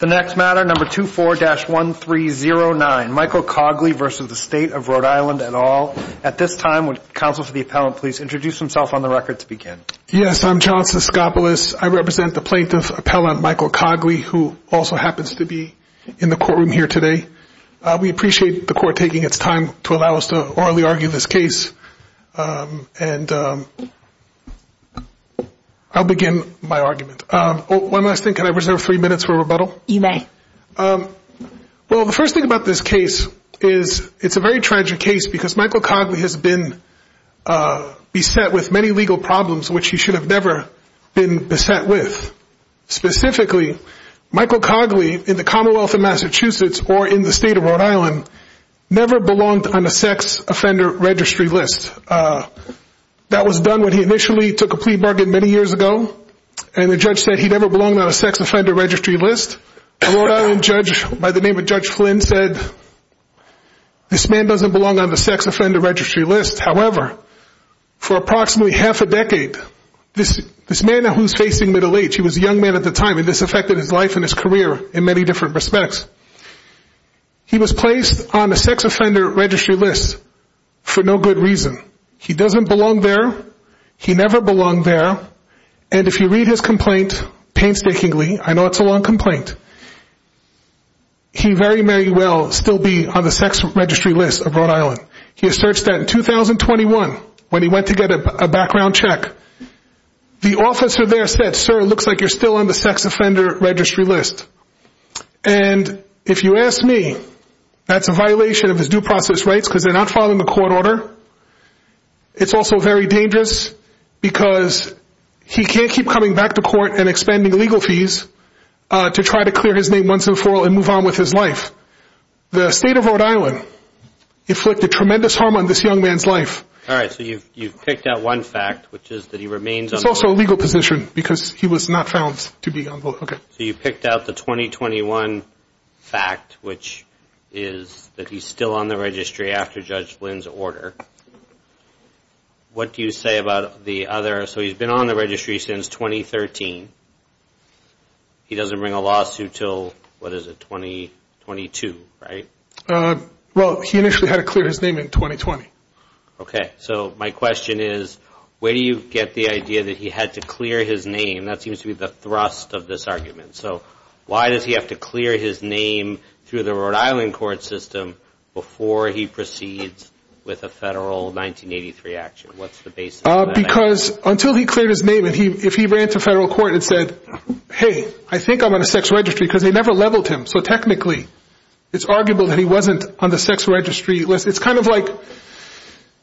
The next matter, number 24-1309, Michael Cogley v. State of Rhode Island et al. At this time, would counsel for the appellant please introduce himself on the record to Yes, I'm John Siskopoulos. I represent the plaintiff, appellant Michael Cogley, who also happens to be in the courtroom here today. We appreciate the court taking its time to allow us to orally argue this case and I'll begin my argument. One last thing, can I reserve three minutes for rebuttal? You may. Well, the first thing about this case is it's a very tragic case because Michael Cogley has been beset with many legal problems which he should have never been beset with. Specifically, Michael Cogley in the Commonwealth of Massachusetts or in the State of Rhode Island never belonged on a sex offender registry list. And that was done when he initially took a plea bargain many years ago and the judge said he never belonged on a sex offender registry list. A Rhode Island judge by the name of Judge Flynn said, this man doesn't belong on the sex offender registry list. However, for approximately half a decade, this man who's facing middle age, he was a young man at the time and this affected his life and his career in many different respects. He was placed on a sex offender registry list for no good reason. He doesn't belong there. He never belonged there. And if you read his complaint painstakingly, I know it's a long complaint, he very, very well still be on the sex registry list of Rhode Island. He asserts that in 2021 when he went to get a background check, the officer there said, sir, it looks like you're still on the sex offender registry list. And if you ask me, that's a violation of his due process rights because they're not following the court order. It's also very dangerous because he can't keep coming back to court and expending legal fees to try to clear his name once and for all and move on with his life. The State of Rhode Island inflicted tremendous harm on this young man's life. All right, so you've picked out one fact, which is that he remains on the list. So you picked out the 2021 fact, which is that he's still on the registry after Judge Flynn's order. What do you say about the other? So he's been on the registry since 2013. He doesn't bring a lawsuit till, what is it, 2022, right? Well, he initially had to clear his name in 2020. OK, so my question is, where do you get the idea that he had to clear his name? That seems to be the thrust of this argument. So why does he have to clear his name through the Rhode Island court system before he proceeds with a federal 1983 action? What's the basis of that? Because until he cleared his name and if he ran to federal court and said, hey, I think I'm on a sex registry because they never leveled him. So technically, it's arguable that he wasn't on the sex registry list. It's kind of like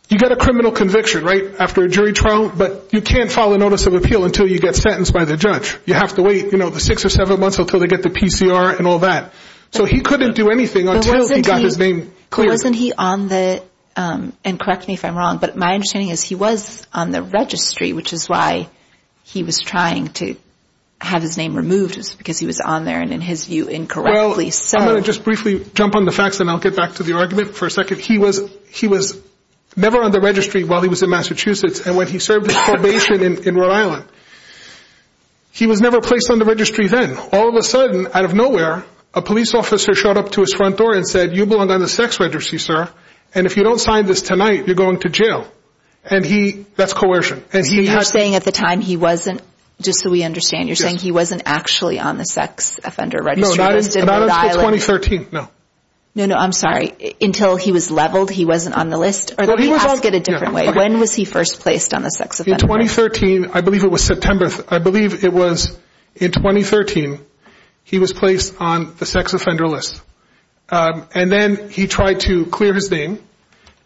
you get a criminal conviction, right, after a jury trial, but you can't file a notice of appeal until you get sentenced by the judge. You have to wait, you know, six or seven months until they get the PCR and all that. So he couldn't do anything until he got his name cleared. Wasn't he on the, and correct me if I'm wrong, but my understanding is he was on the registry, which is why he was trying to have his name removed, because he was on there and in his view incorrectly. Well, I'm going to just briefly jump on the facts and I'll get back to the argument for a second. He was never on the registry while he was in Massachusetts and when he served his probation in Rhode Island, he was never placed on the registry then. All of a sudden, out of nowhere, a police officer showed up to his front door and said, you belong on the sex registry, sir. And if you don't sign this tonight, you're going to jail. And he, that's coercion. You're saying at the time, he wasn't, just so we understand, you're saying he wasn't actually on the sex offender registry list in Rhode Island? No, not until 2013. No. No, no. I'm sorry. Until he was leveled? He wasn't on the list? Or let me ask it a different way. When was he first placed on the sex offender list? In 2013. I believe it was September. I believe it was in 2013, he was placed on the sex offender list. And then he tried to clear his name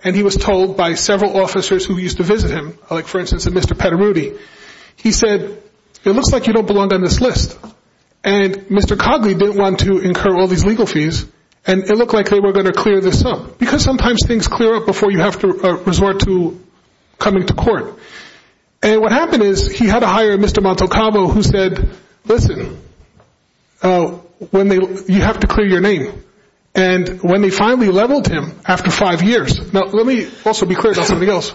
and he was told by several officers who used to visit him, like for instance, Mr. Petarudi, he said, it looks like you don't belong on this list. And Mr. Cogley didn't want to incur all these legal fees. And it looked like they were going to clear this up. Because sometimes things clear up before you have to resort to coming to court. And what happened is, he had to hire Mr. Montalcavo, who said, listen, you have to clear your name. And when they finally leveled him, after five years, now let me also be clear about something else.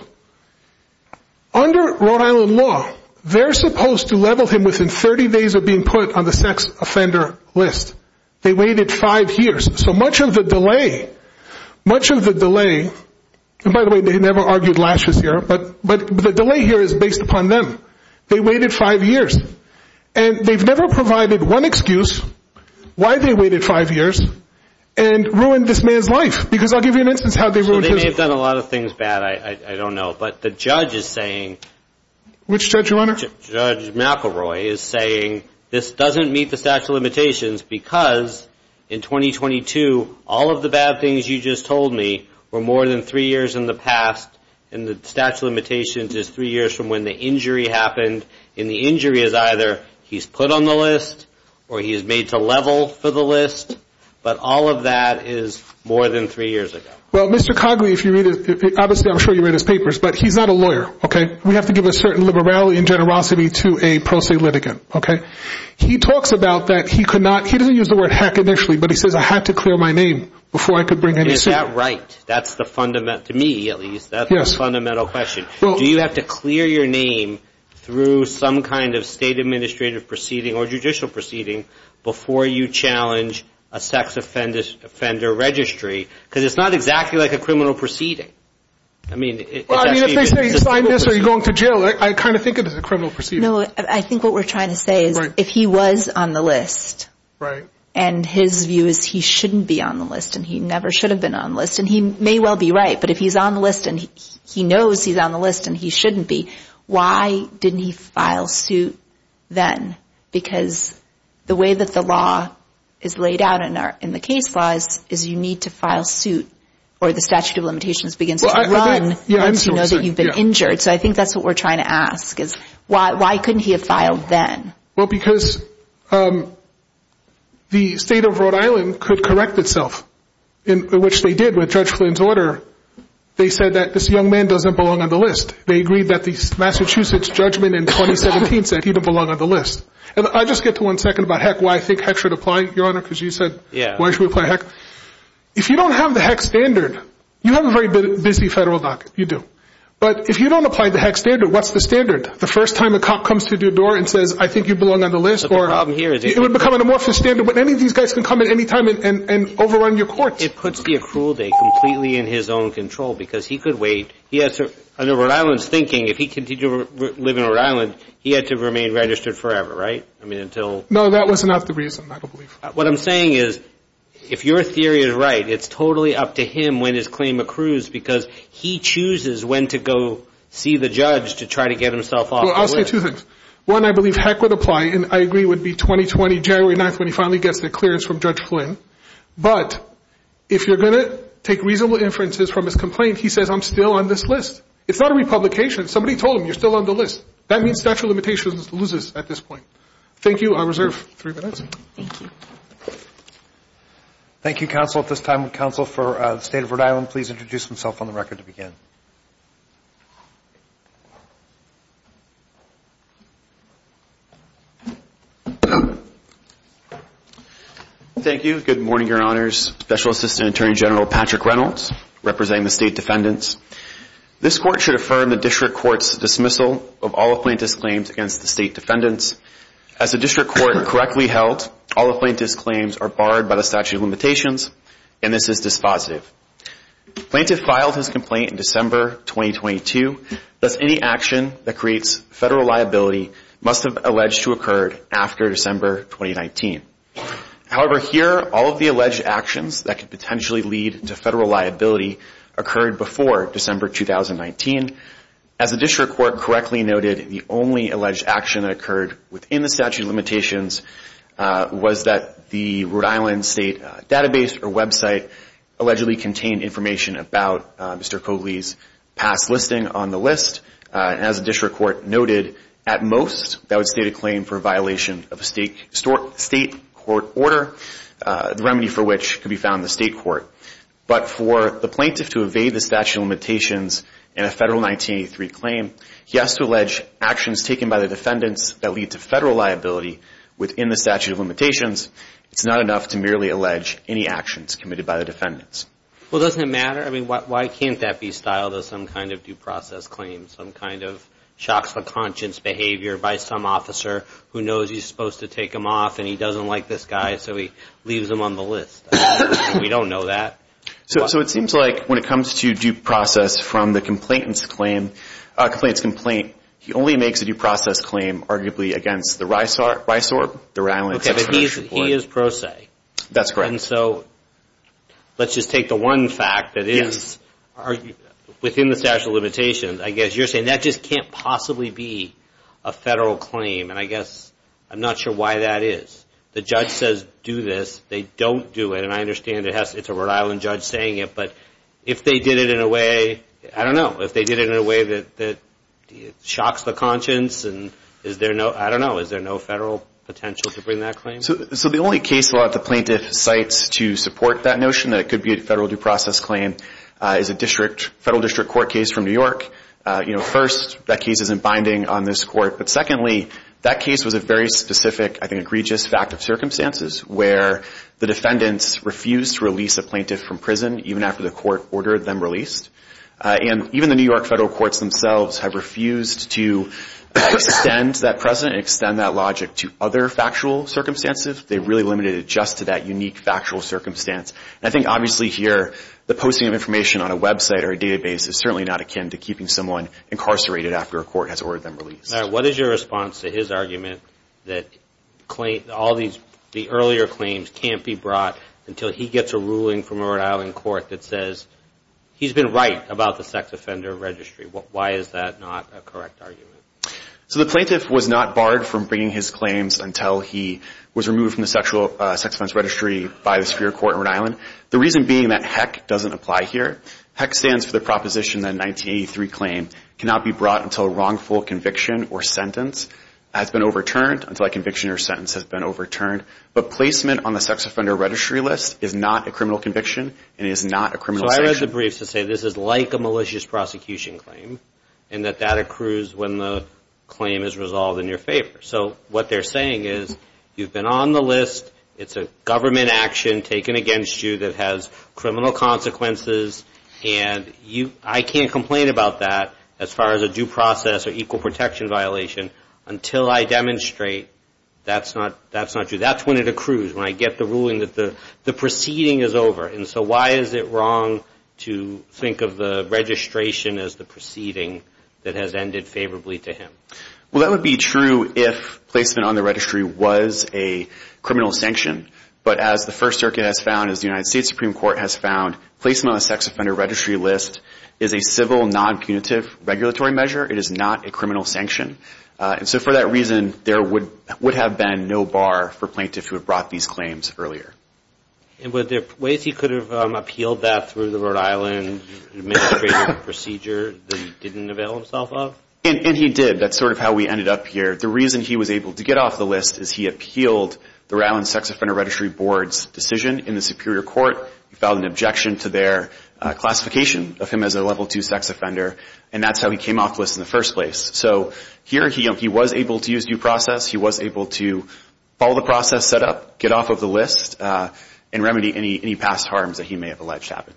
Under Rhode Island law, they're supposed to level him within 30 days of being put on the sex offender list. They waited five years. So much of the delay, much of the delay, and by the way, they never argued lashes here, but the delay here is based upon them. They waited five years. And they've never provided one excuse why they waited five years and ruined this man's life. Because I'll give you an instance how they ruined his life. So they may have done a lot of things bad, I don't know. But the judge is saying. Which judge, Your Honor? Judge McElroy is saying, this doesn't meet the statute of limitations because in 2022, all of the bad things you just told me were more than three years in the past. And the statute of limitations is three years from when the injury happened. And the injury is either he's put on the list or he's made to level for the list. But all of that is more than three years ago. Well, Mr. Cogley, if you read it, obviously, I'm sure you read his papers, but he's not a lawyer. Okay? And we have to give a certain liberality and generosity to a pro se litigant, okay? He talks about that. He could not, he doesn't use the word heck initially, but he says, I had to clear my name before I could bring any suit. Is that right? That's the fundamental, to me, at least, that's the fundamental question. Do you have to clear your name through some kind of state administrative proceeding or judicial proceeding before you challenge a sex offender registry, because it's not exactly like a criminal proceeding. I mean, it's actually... Well, I mean, if they say you signed this or you're going to jail, I kind of think it is a criminal proceeding. No, I think what we're trying to say is if he was on the list, and his view is he shouldn't be on the list, and he never should have been on the list, and he may well be right, but if he's on the list and he knows he's on the list and he shouldn't be, why didn't he file suit then? Because the way that the law is laid out in the case laws is you need to file suit or the statute of limitations begins to run once you know that you've been injured, so I think that's what we're trying to ask is why couldn't he have filed then? Well, because the state of Rhode Island could correct itself, which they did with Judge Flynn's order. They said that this young man doesn't belong on the list. They agreed that the Massachusetts judgment in 2017 said he didn't belong on the list. And I'll just get to one second about heck, why I think heck should apply, Your Honor, because you said why should we apply heck. If you don't have the heck standard, you have a very busy federal docket, you do, but if you don't apply the heck standard, what's the standard? The first time a cop comes to your door and says, I think you belong on the list, it would become an amorphous standard, but any of these guys can come at any time and overrun your courts. It puts the accrual date completely in his own control, because he could wait. Under Rhode Island's thinking, if he continued to live in Rhode Island, he had to remain registered forever, right? I mean, until... No, that was not the reason, I don't believe. What I'm saying is, if your theory is right, it's totally up to him when his claim accrues, because he chooses when to go see the judge to try to get himself off the list. Well, I'll say two things. One, I believe heck would apply, and I agree would be 2020, January 9th, when he finally gets the clearance from Judge Flynn. But if you're going to take reasonable inferences from his complaint, he says, I'm still on this list. It's not a republication. Somebody told him, you're still on the list. That means statute of limitations loses at this point. Thank you. I reserve three minutes. Thank you. Thank you, counsel. At this time, counsel for the state of Rhode Island, please introduce himself on the record to begin. Thank you. Good morning, your honors. Special Assistant Attorney General Patrick Reynolds, representing the state defendants. This court should affirm the district court's dismissal of all plaintiff's claims against the state defendants. As the district court correctly held, all the plaintiff's claims are barred by the statute of limitations, and this is dispositive. Plaintiff filed his complaint in December 2022, thus any action that creates federal liability must have alleged to have occurred after December 2019. However, here, all of the alleged actions that could potentially lead to federal liability occurred before December 2019. As the district court correctly noted, the only alleged action that occurred within the statute of limitations was that the Rhode Island state database or website allegedly contained information about Mr. Cogley's past listing on the list. As the district court noted, at most, that would state a claim for violation of a state court order, the remedy for which could be found in the state court. But for the plaintiff to evade the statute of limitations in a federal 1983 claim, he has to allege actions taken by the defendants that lead to federal liability within the statute of limitations. It's not enough to merely allege any actions committed by the defendants. Well, doesn't it matter? I mean, why can't that be styled as some kind of due process claim, some kind of shocks to conscience behavior by some officer who knows he's supposed to take him off and he doesn't like this guy, so he leaves him on the list? We don't know that. So, it seems like when it comes to due process from the complainant's complaint, he only makes a due process claim arguably against the RISORB, the Rhode Island Tax Finance Report. Okay, but he is pro se. That's correct. And so, let's just take the one fact that is within the statute of limitations. I guess you're saying that just can't possibly be a federal claim, and I guess I'm not sure why that is. The judge says do this, they don't do it, and I understand it's a Rhode Island judge saying it, but if they did it in a way, I don't know, if they did it in a way that shocks the conscience, I don't know, is there no federal potential to bring that claim? So, the only case law that the plaintiff cites to support that notion that it could be a federal due process claim is a federal district court case from New York. First, that case isn't binding on this court, but secondly, that case was a very specific, I think, egregious fact of circumstances where the defendants refused to release a plaintiff from prison even after the court ordered them released, and even the New York federal courts themselves have refused to extend that precedent, extend that logic to other factual circumstances. They really limited it just to that unique factual circumstance, and I think obviously here the posting of information on a website or a database is certainly not akin to keeping someone incarcerated after a court has ordered them released. What is your response to his argument that all the earlier claims can't be brought until he gets a ruling from a Rhode Island court that says he's been right about the sex offender registry? Why is that not a correct argument? So, the plaintiff was not barred from bringing his claims until he was removed from the sexual sex offense registry by the Superior Court in Rhode Island. The reason being that HEC doesn't apply here. HEC stands for the proposition that a 1983 claim cannot be brought until a wrongful conviction or sentence has been overturned, until a conviction or sentence has been overturned. But placement on the sex offender registry list is not a criminal conviction and is not a criminal sanction. So I read the briefs that say this is like a malicious prosecution claim, and that that accrues when the claim is resolved in your favor. So what they're saying is, you've been on the list, it's a government action taken against you that has criminal consequences, and I can't complain about that as far as a due process or equal protection violation until I demonstrate that's not true. That's when it accrues, when I get the ruling that the proceeding is over. And so why is it wrong to think of the registration as the proceeding that has ended favorably to him? Well, that would be true if placement on the registry was a criminal sanction. But as the First Circuit has found, as the United States Supreme Court has found, placement on the sex offender registry list is a civil, non-punitive regulatory measure. It is not a criminal sanction. And so for that reason, there would have been no bar for plaintiffs who had brought these claims earlier. And were there ways he could have appealed that through the Rhode Island administrative procedure that he didn't avail himself of? And he did. That's sort of how we ended up here. The reason he was able to get off the list is he appealed the Rhode Island Sex Offender Registry Board's decision in the Superior Court, he filed an objection to their classification of him as a Level II sex offender, and that's how he came off the list in the first place. So here he was able to use due process, he was able to follow the process set up, get off of the list, and remedy any past harms that he may have alleged happened.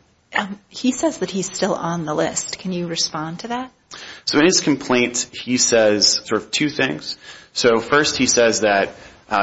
He says that he's still on the list. Can you respond to that? So in his complaint, he says sort of two things. So first, he says that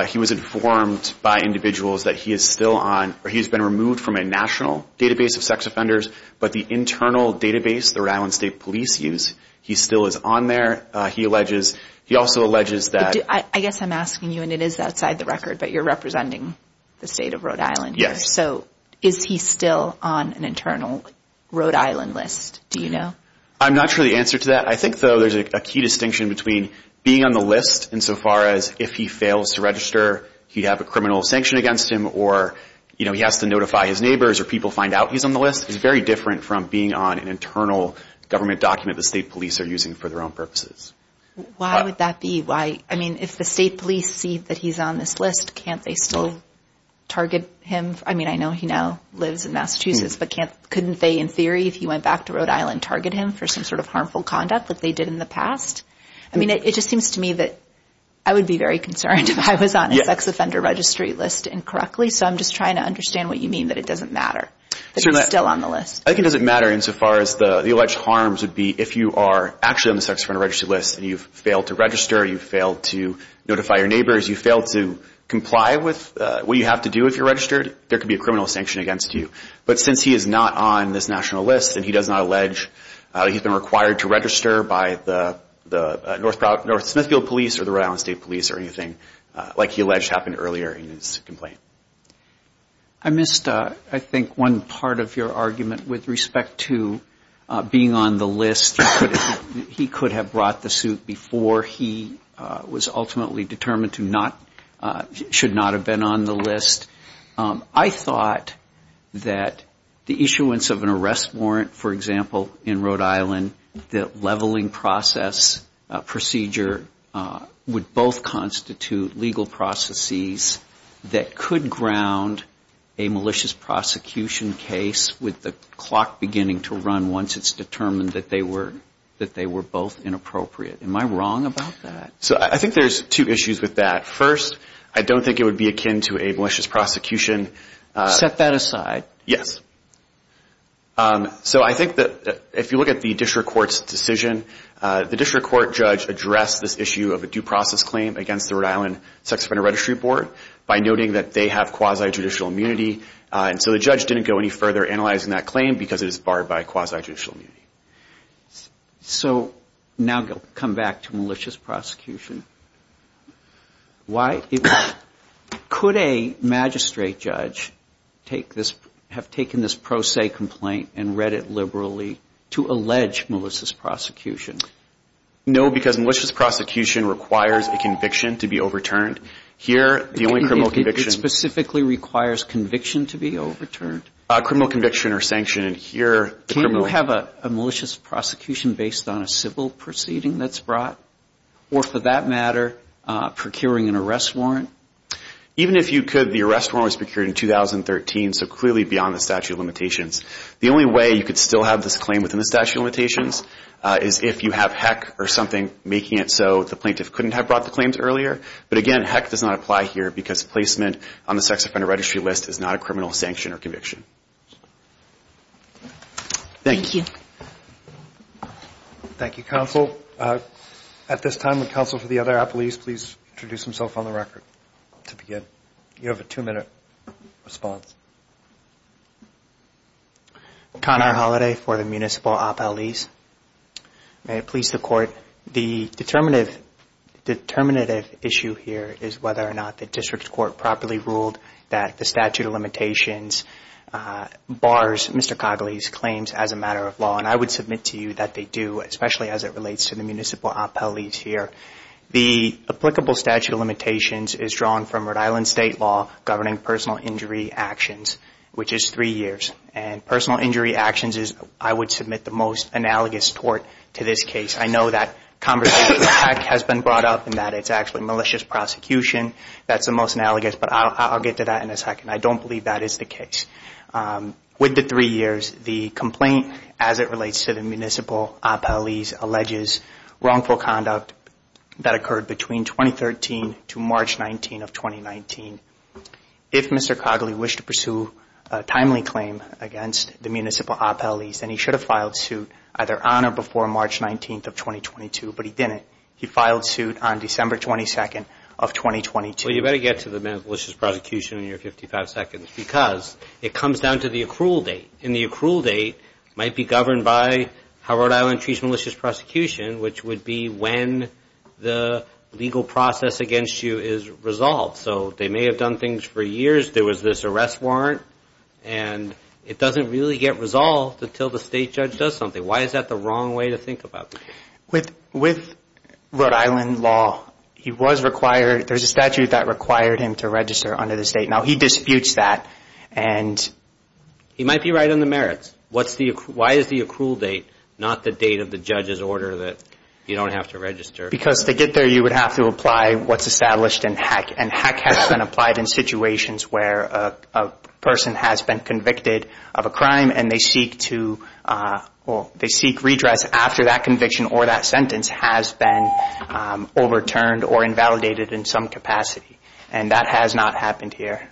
he was informed by individuals that he is still on, or he's been removed from a national database of sex offenders, but the internal database, the Rhode Island State Police use, he still is on there. He alleges, he also alleges that... I guess I'm asking you, and it is outside the record, but you're representing the state of Rhode Island. Yes. So is he still on an internal Rhode Island list? Do you know? I'm not sure the answer to that. I think, though, there's a key distinction between being on the list insofar as if he fails to register, he'd have a criminal sanction against him, or he has to notify his neighbors or people find out he's on the list. It's very different from being on an internal government document the state police are using for their own purposes. Why would that be? Why, I mean, if the state police see that he's on this list, can't they still target him? I mean, I know he now lives in Massachusetts, but couldn't they, in theory, if he went back to Rhode Island, target him for some sort of harmful conduct like they did in the past? I mean, it just seems to me that I would be very concerned if I was on a sex offender registry list incorrectly, so I'm just trying to understand what you mean that it doesn't matter that he's still on the list. I think it doesn't matter insofar as the alleged harms would be if you are actually on the sex offender registry list and you've failed to register, you've failed to notify your neighbors, you've failed to comply with what you have to do if you're registered, there could be a criminal sanction against you. But since he is not on this national list and he does not allege he's been required to register by the North Smithfield Police or the Rhode Island State Police or anything like he alleged happened earlier in his complaint. I missed, I think, one part of your argument with respect to being on the list. He could have brought the suit before he was ultimately determined to not, should not have been on the list. I thought that the issuance of an arrest warrant, for example, in Rhode Island, the leveling process procedure would both constitute legal processes that could ground a malicious prosecution case with the clock beginning to run once it's determined that they were both inappropriate. Am I wrong about that? So I think there's two issues with that. First, I don't think it would be akin to a malicious prosecution. Set that aside. Yes. So I think that if you look at the district court's decision, the district court judge addressed this issue of a due process claim against the Rhode Island Sex Offender Registry Board by noting that they have quasi-judicial immunity and so the judge didn't go any further analyzing that claim because it is barred by quasi-judicial immunity. So now come back to malicious prosecution. Why could a magistrate judge take this, have taken this pro se complaint and read it liberally to allege malicious prosecution? No, because malicious prosecution requires a conviction to be overturned. Here the only criminal conviction... It specifically requires conviction to be overturned? Criminal conviction or sanction. And here... Do you have a malicious prosecution based on a civil proceeding that's brought? Or for that matter, procuring an arrest warrant? Even if you could, the arrest warrant was procured in 2013, so clearly beyond the statute of limitations. The only way you could still have this claim within the statute of limitations is if you have HECC or something making it so the plaintiff couldn't have brought the claims earlier. But again, HECC does not apply here because placement on the sex offender registry list is not a criminal sanction or conviction. Thank you. Thank you, counsel. At this time, would counsel for the other appellees please introduce himself on the record to begin? You have a two minute response. Conor Holliday for the municipal appellees. May it please the court, the determinative issue here is whether or not the district court properly ruled that the statute of limitations bars Mr. Cogley's claims as a matter of law. And I would submit to you that they do, especially as it relates to the municipal appellees here. The applicable statute of limitations is drawn from Rhode Island state law governing personal injury actions, which is three years. And personal injury actions is, I would submit, the most analogous tort to this case. I know that conversation has been brought up and that it's actually malicious prosecution. That's the most analogous, but I'll get to that in a second. I don't believe that is the case. With the three years, the complaint as it relates to the municipal appellees alleges wrongful conduct that occurred between 2013 to March 19th of 2019. If Mr. Cogley wished to pursue a timely claim against the municipal appellees, then he should have filed suit either on or before March 19th of 2022, but he didn't. He filed suit on December 22nd of 2022. Well, you better get to the malicious prosecution in your 55 seconds because it comes down to the accrual date. And the accrual date might be governed by how Rhode Island treats malicious prosecution, which would be when the legal process against you is resolved. So they may have done things for years. There was this arrest warrant, and it doesn't really get resolved until the state judge does something. Why is that the wrong way to think about it? With Rhode Island law, there's a statute that required him to register under the state. Now he disputes that. He might be right on the merits. Why is the accrual date not the date of the judge's order that you don't have to register? Because to get there, you would have to apply what's established in HEC, and HEC has been applied in situations where a person has been convicted of a crime, and they seek redress after that conviction or that sentence has been overturned or invalidated in some capacity. And that has not happened here.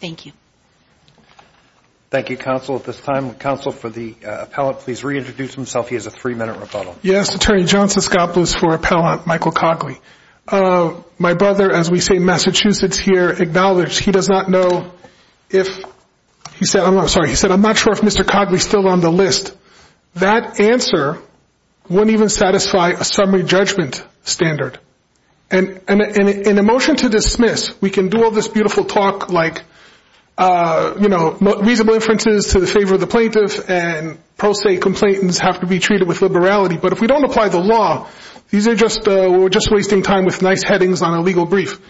Thank you. Thank you, counsel. At this time, counsel, for the appellant, please reintroduce himself. He has a three-minute rebuttal. Yes, Attorney Johnson. Scott Blues for Appellant Michael Cogley. My brother, as we say in Massachusetts here, acknowledged he does not know if he said, I'm sorry, he said, I'm not sure if Mr. Cogley is still on the list. That answer wouldn't even satisfy a summary judgment standard. In a motion to dismiss, we can do all this beautiful talk like reasonable inferences to the favor of the plaintiff and pro se complainants have to be treated with liberality, but if we don't apply the law, we're just wasting time with nice headings on a legal brief.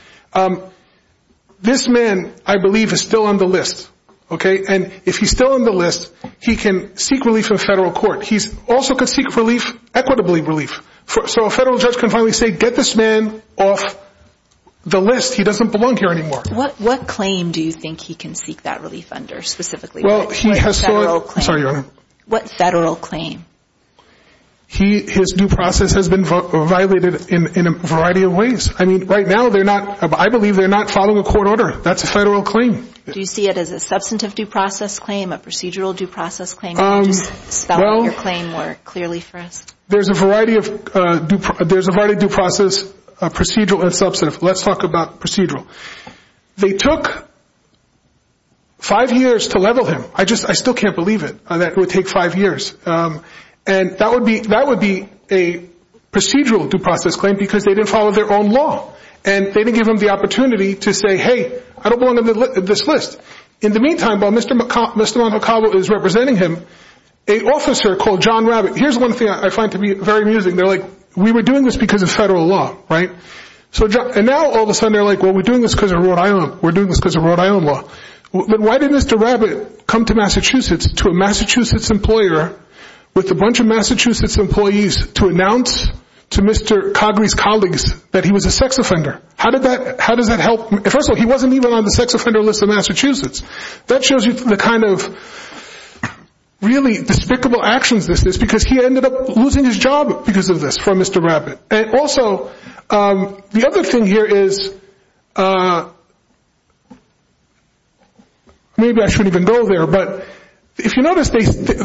This man, I believe, is still on the list, okay? And if he's still on the list, he can seek relief in a federal court. He's also could seek relief, equitably relief. So a federal judge can finally say, get this man off the list. He doesn't belong here anymore. What claim do you think he can seek that relief under, specifically? Well, he has sought- Federal claim. Sorry, Your Honor. What federal claim? His due process has been violated in a variety of ways. I mean, right now, they're not, I believe they're not following a court order. That's a federal claim. Do you see it as a substantive due process claim, a procedural due process claim? Can you just spell your claim more clearly for us? There's a variety of due process, procedural and substantive. Let's talk about procedural. They took five years to level him. I just, I still can't believe it, that it would take five years. And that would be a procedural due process claim because they didn't follow their own law. And they didn't give him the opportunity to say, hey, I don't belong on this list. In the meantime, while Mr. Montecalvo is representing him, a officer called John Rabbit, here's one thing I find to be very amusing, they're like, we were doing this because of federal law, right? And now, all of a sudden, they're like, well, we're doing this because of Rhode Island. We're doing this because of Rhode Island law. But why did Mr. Rabbit come to Massachusetts, to a Massachusetts employer, with a bunch of Massachusetts employees, to announce to Mr. Coggrey's colleagues that he was a sex offender? How did that, how does that help? First of all, he wasn't even on the sex offender list of Massachusetts. That shows you the kind of really despicable actions this is because he ended up losing his job because of this, from Mr. Rabbit. And also, the other thing here is, maybe I shouldn't even go there, but if you notice,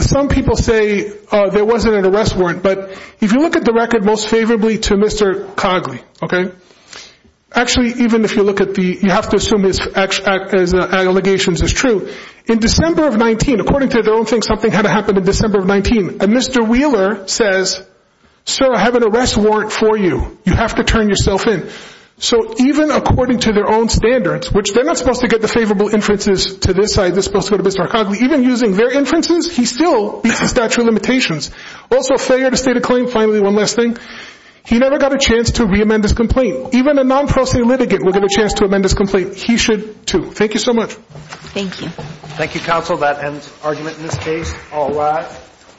some people say there wasn't an arrest warrant, but if you look at the record most favorably to Mr. Coggley, okay, actually, even if you look at the, you have to assume his allegations is true. In December of 19, according to their own thing, something had happened in December of 19, and Mr. Wheeler says, sir, I have an arrest warrant for you, you have to turn yourself in. So, even according to their own standards, which they're not supposed to get the favorable inferences to this side, they're supposed to go to Mr. Coggley, even using their inferences, he still meets the statute of limitations. Also failure to state a claim, finally, one last thing, he never got a chance to re-amend his complaint. Even a non-prosecuted litigant will get a chance to amend his complaint. He should too. Thank you so much. Thank you. Thank you, counsel. That ends argument in this case. All rise. Thank you.